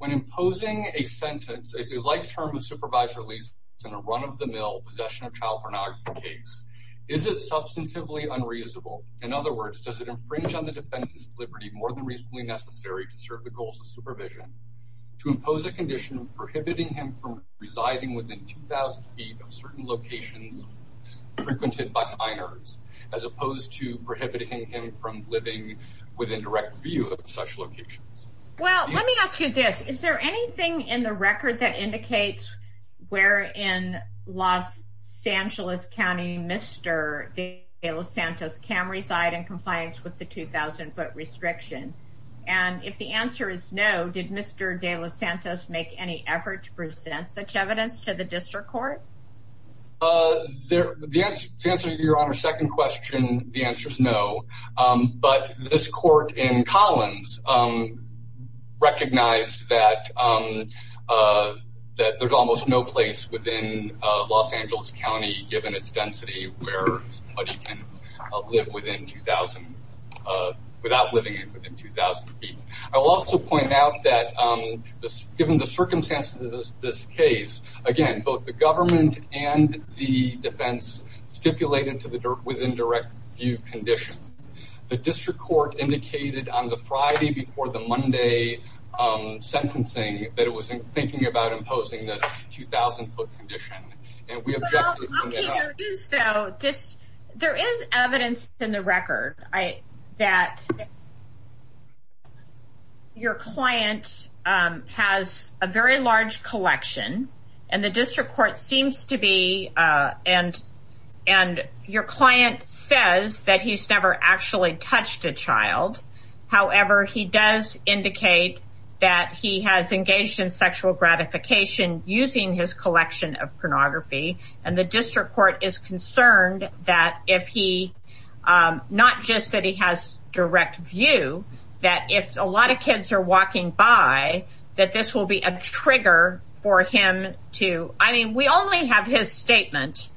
When imposing a sentence, is a life term of supervisory release in a run-of-the-mill possession of child pornography case, is it substantively unreasonable? In other words, does it infringe on the defendant's liberty more than reasonably necessary to ensure the goals of supervision, to impose a condition prohibiting him from residing within 2,000 feet of certain locations frequented by minors, as opposed to prohibiting him from living within direct view of such locations? Well, let me ask you this. Is there anything in the record that indicates where in Los Angeles County, Mr. De Los Santos can reside in compliance with the 2,000 foot restriction? And if the answer is no, did Mr. De Los Santos make any effort to present such evidence to the district court? To answer your honor's second question, the answer is no. But this court in Collins recognized that there's almost no place within Los Angeles County, given its density, where somebody can live without living within 2,000 feet. I'll also point out that given the circumstances of this case, again, both the government and the defense stipulated to the within direct view condition. The district court indicated on the Friday before the Monday sentencing that it was thinking about imposing this 2,000 foot condition. Well, there is evidence in the record that your client has a very large collection, and the district court seems to be, and your client says that he's never actually touched a child. However, he does indicate that he has engaged in sexual gratification using his collection of pornography. And the district court is concerned that if he not just that he has direct view, that if a lot of kids are walking by, that this will be a trigger for him to. I mean, we only have his statement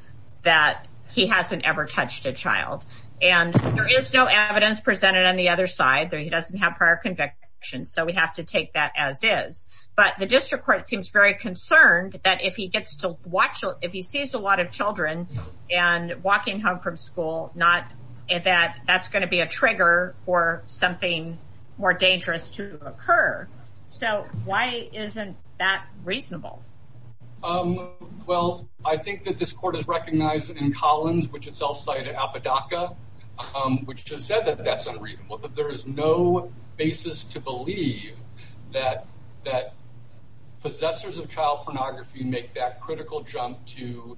that he hasn't ever touched a child. And there is no evidence presented on the other side that he doesn't have prior conviction. So we have to take that as is. But the district court seems very concerned that if he gets to watch, if he sees a lot of children and walking home from school, not that that's going to be a trigger for something more dangerous to occur. So why isn't that reasonable? Well, I think that this court is recognized in Collins, which is outside of Apodaca, which has said that that's unreasonable, that there is no basis to believe that that possessors of child pornography make that critical jump to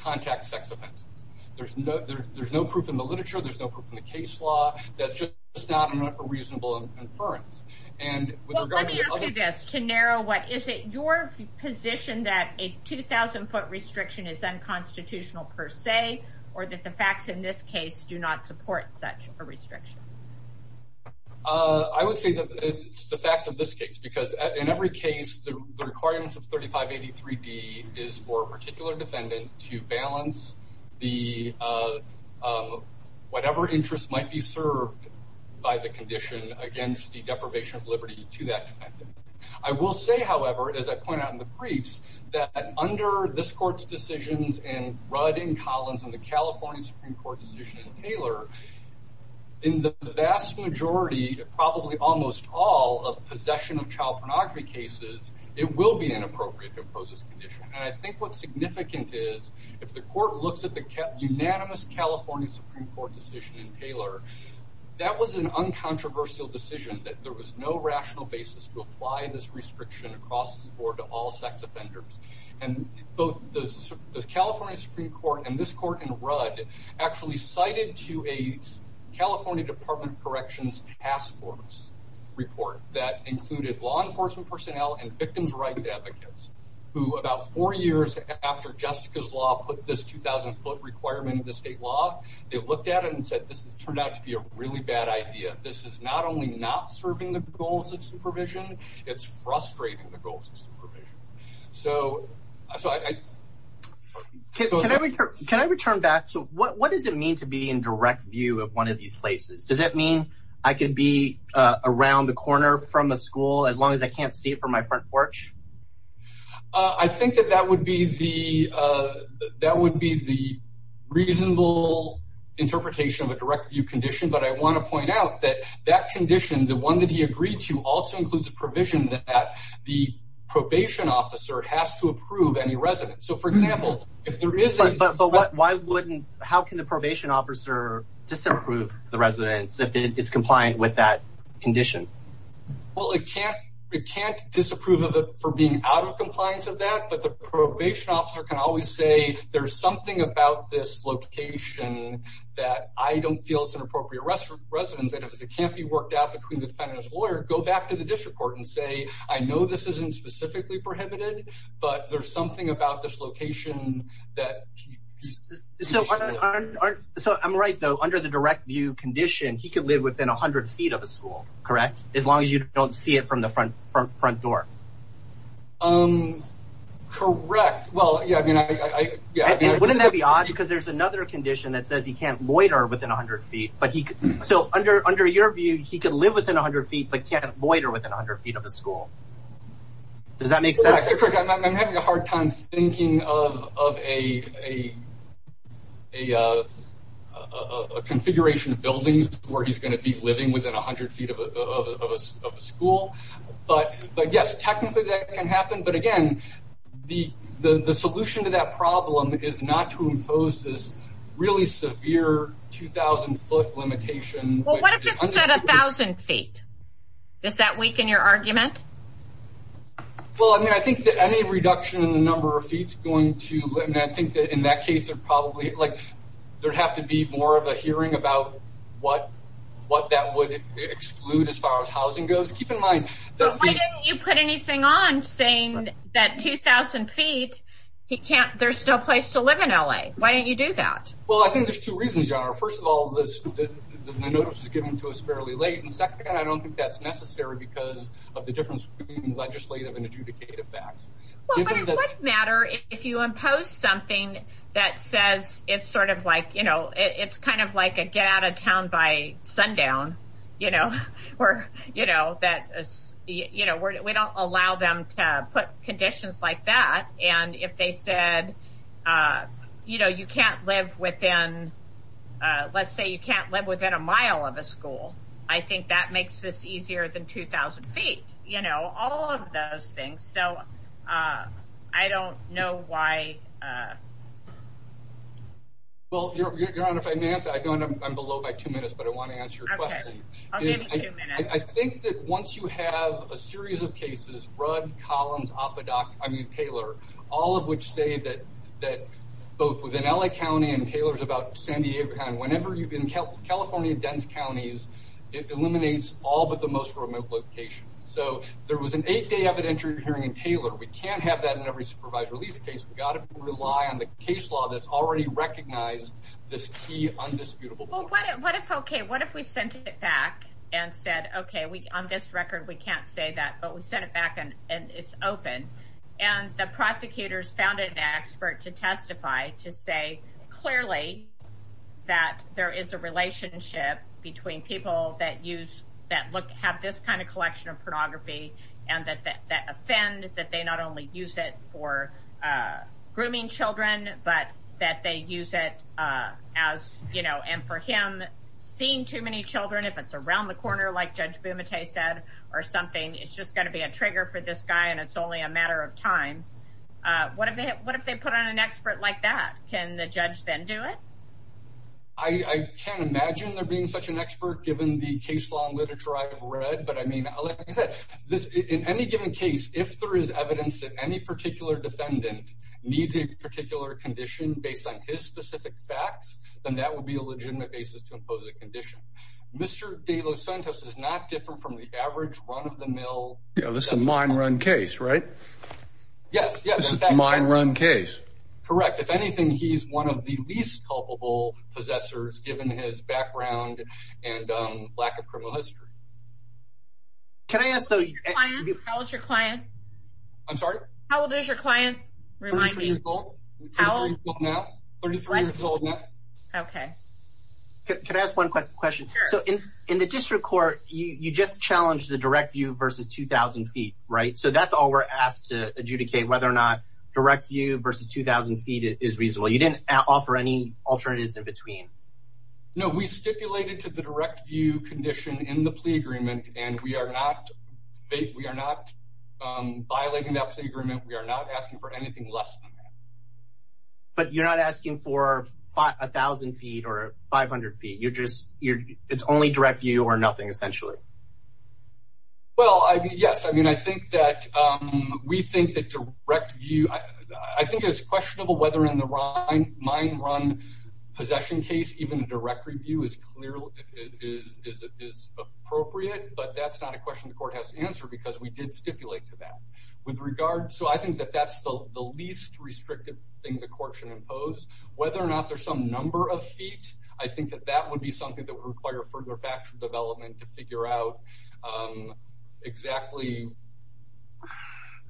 contact sex offenses. There's no there's no proof in the literature. There's no proof in the case law. That's just not a reasonable inference. And with regard to this, to narrow, what is it your position that a 2000 foot restriction is unconstitutional per se, or that the facts in this case do not support such a restriction? I would say that it's the facts of this case, because in every case, the requirements of 3583 D is for a particular defendant to balance the whatever interest might be served by the condition against the deprivation of liberty to that. I will say, however, as I point out in the briefs that under this court's decisions and Rudd in Collins and the California Supreme Court decision in Taylor, in the vast majority, probably almost all of possession of child pornography cases, it will be inappropriate to oppose this condition. And I think what's significant is if the court looks at the unanimous California Supreme Court decision in Taylor, that was an uncontroversial decision that there was no rational basis to apply this restriction across the board to all sex offenders. And both the California Supreme Court and this court in Rudd actually cited to a California Department of Corrections Task Force report that included law enforcement personnel and victims rights advocates who about four years after Jessica's law put this 2000 foot requirement in the state law, they looked at it and said, this has turned out to be a really bad idea. This is not only not serving the goals of supervision, it's frustrating the goals of supervision. So so I can I return back to what does it mean to be in direct view of one of these places? Does that mean I could be around the corner from a school as long as I can't see it from my front porch? I think that that would be the that would be the reasonable interpretation of a direct view condition. But I want to point out that that condition, the one that he agreed to also includes a provision that the probation officer has to approve any residence. So, for example, if there is a but why wouldn't how can the probation officer disapprove the residence if it's compliant with that condition? Well, it can't it can't disapprove of it for being out of compliance of that. But the probation officer can always say there's something about this location that I don't feel it's an appropriate residence that it can't be worked out between the defendant's lawyer. Go back to the district court and say, I know this isn't specifically prohibited, but there's something about this location that. So so I'm right, though, under the direct view condition, he could live within 100 feet of a school, correct? As long as you don't see it from the front front front door. Correct. Well, yeah, I mean, I wouldn't that be odd because there's another condition that says he can't loiter within 100 feet, but he so under under your view, he could live within 100 feet, but can't loiter within 100 feet of a school. Does that make sense? I'm having a hard time thinking of of a a a configuration of buildings where he's going to be living within 100 feet of a school. But but yes, technically that can happen. But again, the the the solution to that problem is not to impose this really severe two thousand foot limitation. Well, what if it's at a thousand feet? Does that weaken your argument? Well, I mean, I think that any reduction in the number of feet going to I think that in that case are probably like there have to be more of a hearing about what what that would exclude as far as housing goes. Keep in mind that you put anything on saying that two thousand feet, he can't there's still a place to live in L.A. Why don't you do that? Well, I think there's two reasons. First of all, the notice is given to us fairly late. And second, I don't think that's necessary because of the difference between legislative and adjudicative facts. Well, it doesn't matter if you impose something that says it's sort of like, you know, it's kind of like a get out of town by sundown, you know, or, you know, that, you know, we don't allow them to put conditions like that. And if they said, you know, you can't live within let's say you can't live within a mile of a school. I think that makes this easier than two thousand feet, you know, all of those things. So I don't know why. Well, your Honor, if I may answer, I don't I'm below by two minutes, but I want to answer your question. I think that once you have a series of cases, Rudd, Collins, Apodoc, I mean, Taylor, all of which say that that both within L.A. County and Taylor's about San Diego County, whenever you've been in California, dense counties, it eliminates all but the most remote locations. So there was an eight day evidentiary hearing in Taylor. We can't have that in every supervised release case. We've got to rely on the case law that's already recognized this key, undisputable what if OK, what if we sent it back and said, OK, we on this record, we can't say that. But we sent it back and it's open. And the prosecutors found an expert to testify to say clearly that there is a relationship between people that use that look have this kind of collection of pornography and that that offend that they not only use it for grooming children, but that they use it as, you know, and for him seeing too many children, if it's around the corner, like Judge Bumate said or something, it's just going to be a trigger for this guy. And it's only a matter of time. What if what if they put on an expert like that? Can the judge then do it? I can't imagine there being such an expert given the case law and literature I've read, but I mean, like I said, this in any given case, if there is evidence that any particular defendant needs a particular condition based on his specific facts, then that would be a legitimate basis to impose a condition. Mr. De Los Santos is not different from the average run of the mill. This is a mine run case, right? Yes, yes. Mine run case. Correct. If anything, he's one of the least culpable possessors, given his background and lack of criminal history. Can I ask, though, how is your client? I'm sorry. How old is your client? Remind me. How old now? Thirty three years old now. OK, could I ask one quick question? So in the district court, you just challenged the direct view versus 2000 feet, right? So that's all we're asked to adjudicate, whether or not direct view versus 2000 feet is reasonable. You didn't offer any alternatives in between. No, we stipulated to the direct view condition in the plea agreement and we are not we are not violating that agreement. We are not asking for anything less. But you're not asking for a thousand feet or 500 feet, you're just you're it's only direct view or nothing, essentially. Well, yes, I mean, I think that we think that direct view, I think it's questionable whether in the mine run possession case, even direct review is clearly is the question the court has to answer because we did stipulate to that with regard. So I think that that's the least restrictive thing the court should impose, whether or not there's some number of feet. I think that that would be something that would require further factual development to figure out exactly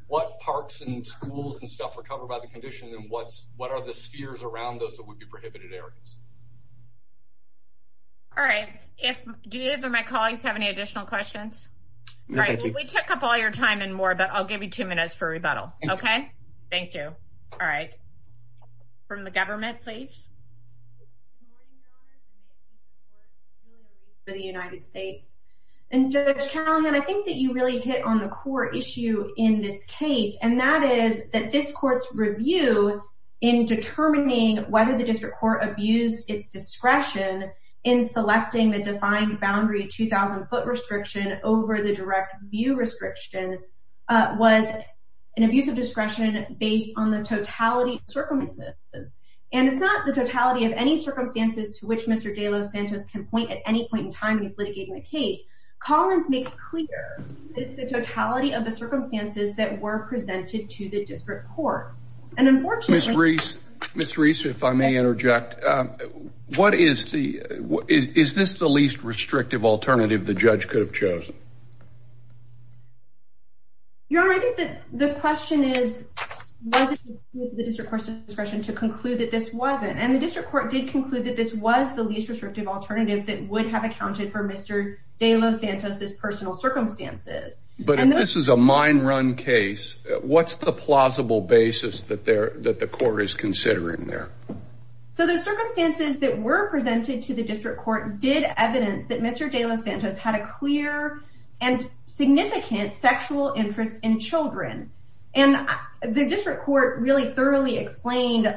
what parks and schools and stuff are covered by the condition and what's what are the spheres around those that would be prohibited areas. All right, if my colleagues have any additional questions. We took up all your time and more, but I'll give you two minutes for rebuttal. OK, thank you. All right. From the government, please. For the United States and county, and I think that you really hit on the core issue in this case, and that is that this court's review in determining whether the district court abused its discretion in selecting the defined boundary 2000 foot restriction over the direct view restriction was an abuse of discretion based on the totality circumstances. And it's not the totality of any circumstances to which Mr. De Los Santos can point at any point in time. He's litigating the case. Collins makes clear it's the totality of the circumstances that were presented to the district court. And unfortunately, Miss Reese, if I may interject, what is the is this the least restrictive alternative the judge could have chosen? Your Honor, I think that the question is, was it the district court's discretion to conclude that this wasn't and the district court did conclude that this was the least restrictive alternative that would have accounted for Mr. De Los Santos's personal circumstances. But if this is a mine run case, what's the plausible basis that there that the court is considering there? So the circumstances that were presented to the district court did evidence that Mr. De Los Santos had a clear and significant sexual interest in children. And the district court really thoroughly explained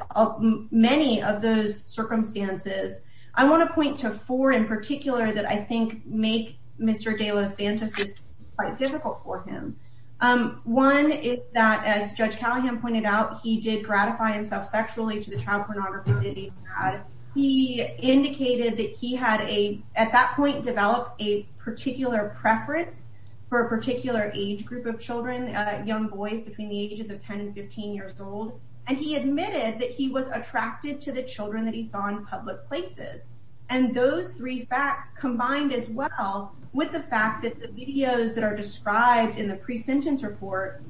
many of those circumstances. I want to point to four in particular that I think make Mr. De Los Santos quite difficult for him. One is that, as Judge Callahan pointed out, he did gratify himself sexually to the child a particular preference for a particular age group of children, young boys between the ages of 10 and 15 years old. And he admitted that he was attracted to the children that he saw in public places. And those three facts combined as well with the fact that the videos that are described in the pre-sentence report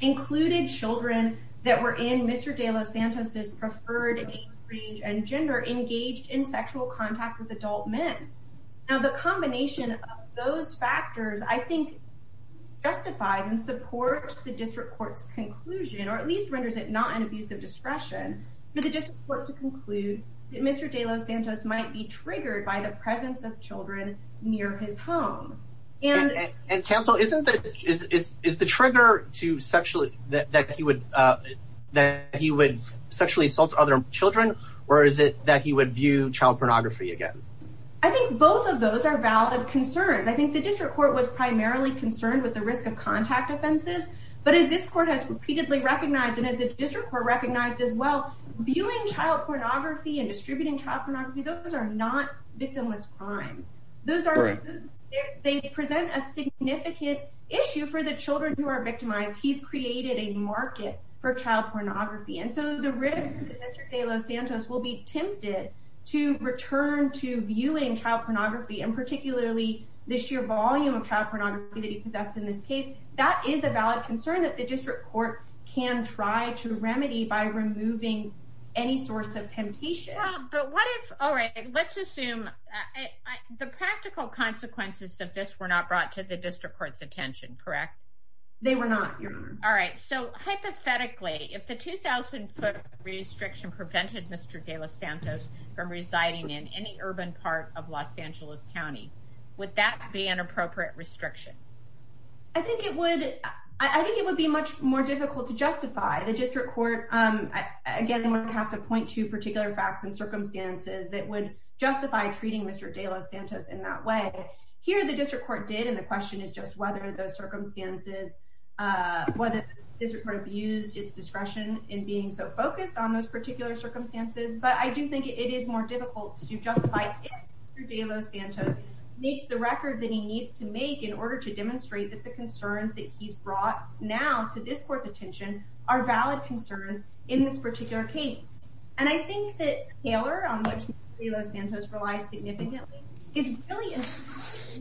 included children that were in Mr. De Los Santos's preferred age and gender engaged in sexual contact with adult men. Now, the combination of those factors, I think, justifies and supports the district court's conclusion or at least renders it not an abuse of discretion for the district court to conclude that Mr. De Los Santos might be triggered by the presence of children near his home. And counsel, isn't that is the trigger to sexually that he would that he would sexually assault other children or is it that he would view child pornography again? I think both of those are valid concerns. I think the district court was primarily concerned with the risk of contact offenses. But as this court has repeatedly recognized and as the district were recognized as well, viewing child pornography and distributing child pornography, those are not victimless crimes. Those are they present a significant issue for the children who are victimized. He's created a market for child pornography. And so the risk that Mr. De Los Santos will be tempted to return to viewing child pornography and particularly this year volume of child pornography that he possessed in this case, that is a valid concern that the district court can try to remedy by removing any source of temptation. But what if all right, let's assume the practical consequences of this were not brought to the district court's attention, correct? They were not. All right. So hypothetically, if the 2000 foot restriction prevented Mr. De Los Santos from residing in any urban part of Los Angeles County, would that be an appropriate restriction? I think it would I think it would be much more difficult to justify the district court. Again, I have to point to particular facts and circumstances that would justify treating Mr. De Los Santos in that way. Here, the district court did. And the question is just whether those circumstances, whether the district court used its discretion in being so focused on those particular circumstances. But I do think it is more difficult to justify if De Los Santos meets the record that he needs to make in order to demonstrate that the concerns that he's brought now to this court's attention are valid concerns in this particular case. And I think that Taylor, on which De Los Santos relies significantly, is really in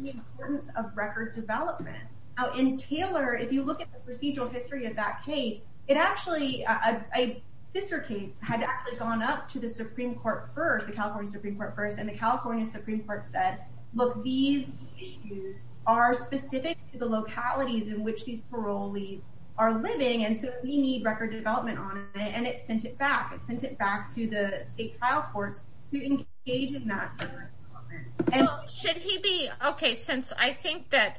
the importance of record development. Now, in Taylor, if you look at the procedural history of that case, it actually a sister case had actually gone up to the Supreme Court first, the California Supreme Court first. And the California Supreme Court said, look, these issues are specific to the localities in which these parolees are living. And so we need record development on it. And it sent it back. It sent it back to the state trial courts to engage in that. And should he be OK, since I think that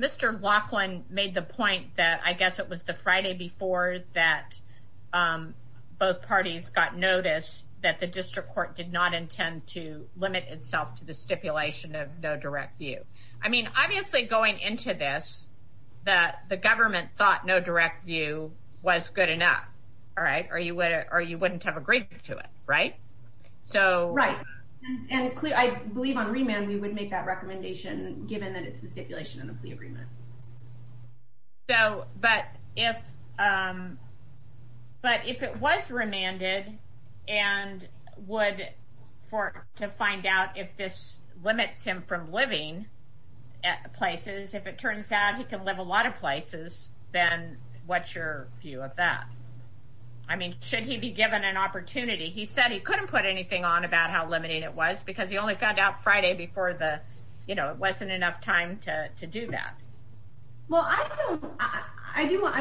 Mr. Laughlin made the point that I guess it was the Friday before that both parties got notice that the district court did not intend to limit itself to the stipulation of no direct view. I mean, obviously, going into this, that the government thought no direct view was good enough. All right. Are you what are you wouldn't have agreed to it? Right. So. Right. And I believe on remand, we would make that recommendation given that it's the stipulation of the agreement. So but if but if it was remanded and would for to find out if this limits him from living at places, if it turns out he can live a lot of places, then what's your view of that? I mean, should he be given an opportunity? He said he couldn't put anything on about how limited it was because he only found out Friday before the, you know, it wasn't enough time to do that. Well, I don't I do what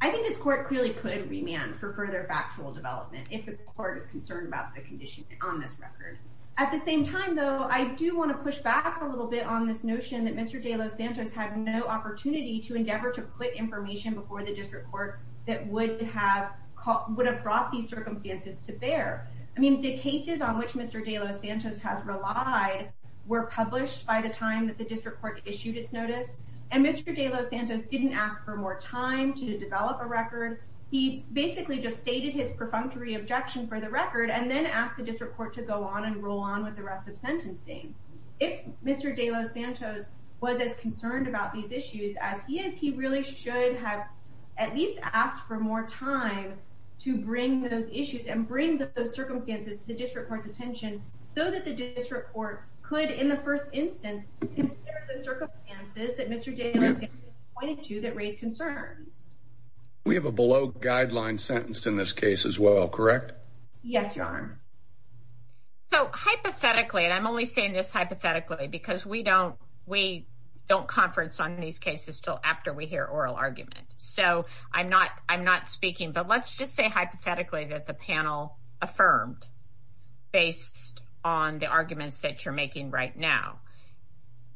I think this court clearly could remand for further factual development if the court is concerned about the condition on this record at the same time, though, I do want to push back a little bit on this notion that Mr. De Los Santos had no opportunity to endeavor to put information before the district court that would have would have brought these circumstances to bear. I mean, the cases on which Mr. De Los Santos has relied were published by the time that the district court issued its notice. And Mr. De Los Santos didn't ask for more time to develop a record. He basically just stated his perfunctory objection for the record and then asked the district court to go on and roll on with the rest of sentencing. If Mr. De Los Santos was as concerned about these issues as he is, he really should have at least asked for more time to bring those issues and bring those circumstances to the district court's attention so that the district court could, in the first instance, consider the circumstances that Mr. De Los Santos pointed to that raised concerns. We have a below guideline sentence in this case as well, correct? Yes, your honor. So hypothetically, and I'm only saying this hypothetically because we don't we don't conference on these cases till after we hear oral argument. So I'm not I'm not speaking, but let's just say hypothetically that the panel affirmed based on the arguments that you're making right now.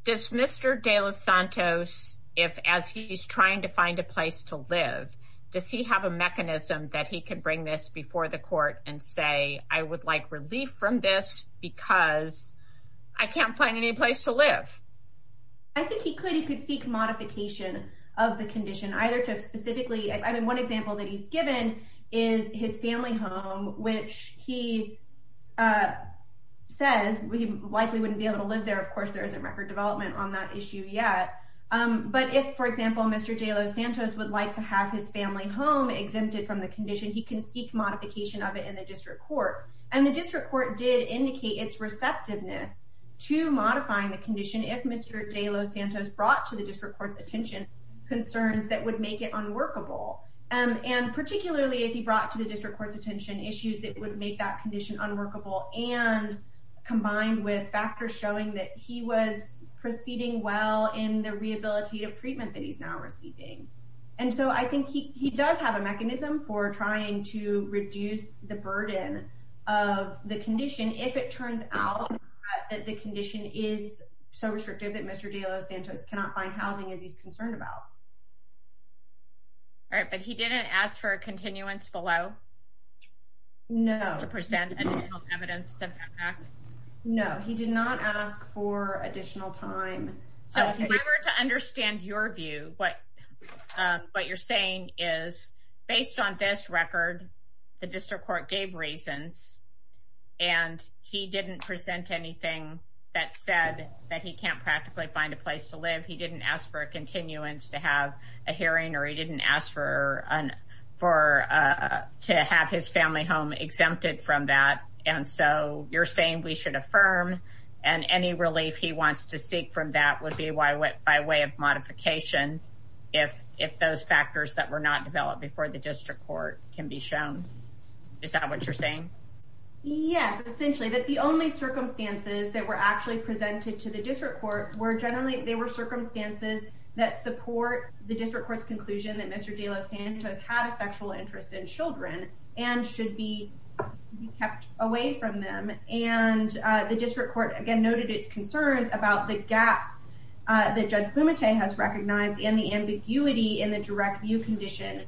Does Mr. De Los Santos, if as he's trying to find a place to live, does he have a mechanism that he could bring this before the court and say, I would like relief from this because I can't find any place to live? I think he could he could seek modification of the condition, either to specifically, I mean, one example that he's given is his family home, which he says we likely wouldn't be able to live there. Of course, there is a record development on that issue yet. But if, for example, Mr. De Los Santos would like to have his family home exempted from the condition, he can seek modification of it in the district court. And the district court did indicate its receptiveness to modifying the condition if Mr. De Los Santos brought to the district court's attention concerns that would make it unworkable and particularly if he brought to the district court's attention issues that would make that condition unworkable and combined with factors showing that he was proceeding well in the rehabilitative treatment that he's now receiving. And so I think he does have a mechanism for trying to reduce the burden of the condition if it turns out that the condition is so restrictive that Mr. De Los Santos cannot find housing as he's concerned about. All right, but he didn't ask for a continuance below. No, to present additional evidence to that fact. No, he did not ask for additional time. So if I were to understand your view, what you're saying is based on this record, the district court gave reasons and he didn't present anything that said that he can't practically find a place to live. He didn't ask for a continuance to have a hearing or he didn't ask for to have his family home exempted from that. And so you're saying we should affirm and any relief he wants to seek from that would be why by way of modification, if if those factors that were not developed before the district court can be shown, is that what you're saying? Yes, essentially that the only circumstances that were actually presented to the district court were generally they were circumstances that support the district court's conclusion that Mr. De Los Santos had a sexual interest in children and should be kept away from them. And the district court, again, noted its concerns about the gaps that Judge Fumate has recognized and the ambiguity in the direct view condition.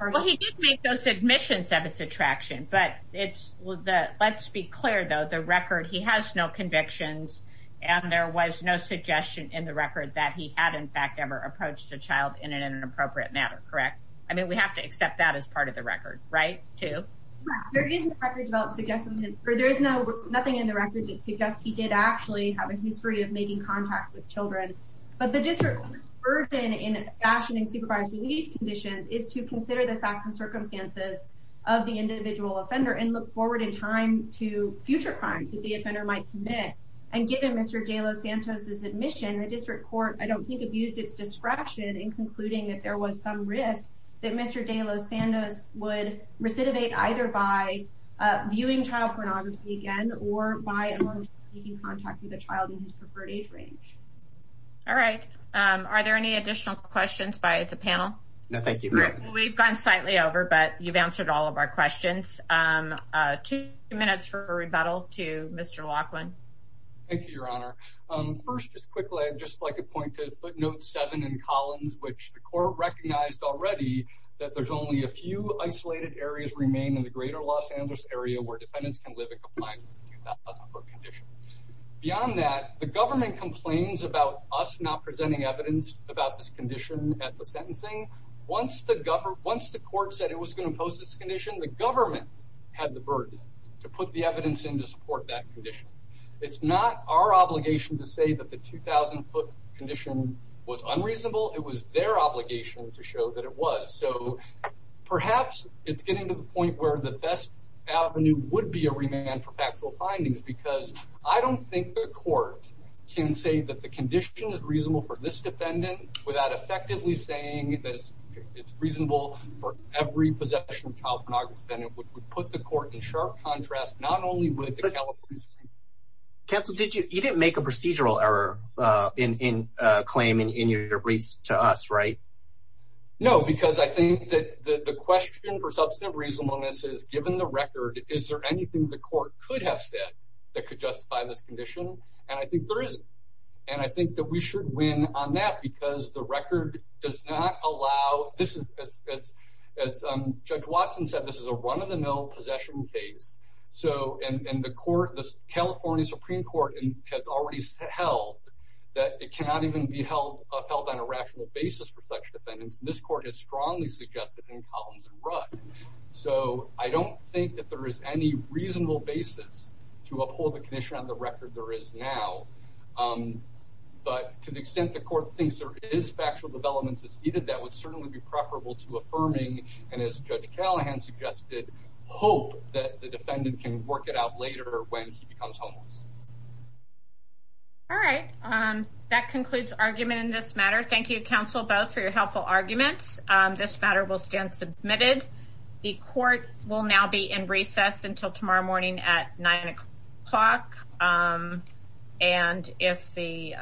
Well, he did make those submissions of his attraction, but it's the let's be clear, though, the record he has no convictions and there was no suggestion in the record that he had, in fact, ever approached a child in an inappropriate matter. Correct. I mean, we have to accept that as part of the record, right, too. There is a record about suggesting that there is no nothing in the record that suggests he did actually have a history of making contact with children. But the district court's burden in fashioning supervised release conditions is to consider the facts and circumstances of the individual offender and look forward in time to future crimes that the offender might commit. And given Mr. De Los Santos's admission, the district court, I don't think, abused its discretion in concluding that there was some risk that Mr. De Los Santos would recidivate either by viewing child pornography again or by making contact with a child in his preferred age range. All right. Are there any additional questions by the panel? No, thank you. We've gone slightly over, but you've answered all of our questions. Two minutes for a rebuttal to Mr. Laughlin. Thank you, Your Honor. First, just quickly, I'd just like to point to footnote seven in Collins, which the court recognized already that there's only a few isolated areas remain in the greater Los Santos area where defendants can live in compliance with the 2,000 foot condition. Beyond that, the government complains about us not presenting evidence about this condition at the sentencing. Once the government, once the court said it was going to impose this condition, the It's not our obligation to say that the 2,000 foot condition was unreasonable. It was their obligation to show that it was. So perhaps it's getting to the point where the best avenue would be a remand for factual findings, because I don't think the court can say that the condition is reasonable for this defendant without effectively saying that it's reasonable for every possession of child pornography defendant, which would put the court in sharp contrast, not only with the California Supreme Court. Counsel, did you you didn't make a procedural error in claiming in your release to us, right? No, because I think that the question for substantive reasonableness is given the record, is there anything the court could have said that could justify this condition? And I think there is. And I think that we should win on that because the record does not allow this. It's as Judge Watson said, this is a run of the mill possession case. So and the court, the California Supreme Court has already held that it cannot even be held upheld on a rational basis for such defendants. This court has strongly suggested in Collins and Rudd. So I don't think that there is any reasonable basis to uphold the condition on the record there is now. But to the extent the court thinks there is factual developments, it's either that would certainly be preferable to affirming. And as Judge Callahan suggested, hope that the defendant can work it out later when he becomes homeless. All right, that concludes argument in this matter. Thank you, counsel, both for your helpful arguments. This matter will stand submitted. The court will now be in recess until tomorrow morning at nine o'clock. And if the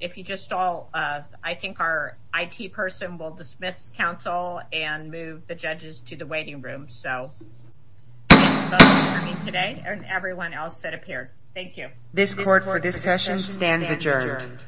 if you just all I think our I.T. person will dismiss counsel and move the judges to the waiting room. So today and everyone else that appeared. Thank you. This court for this session stands adjourned.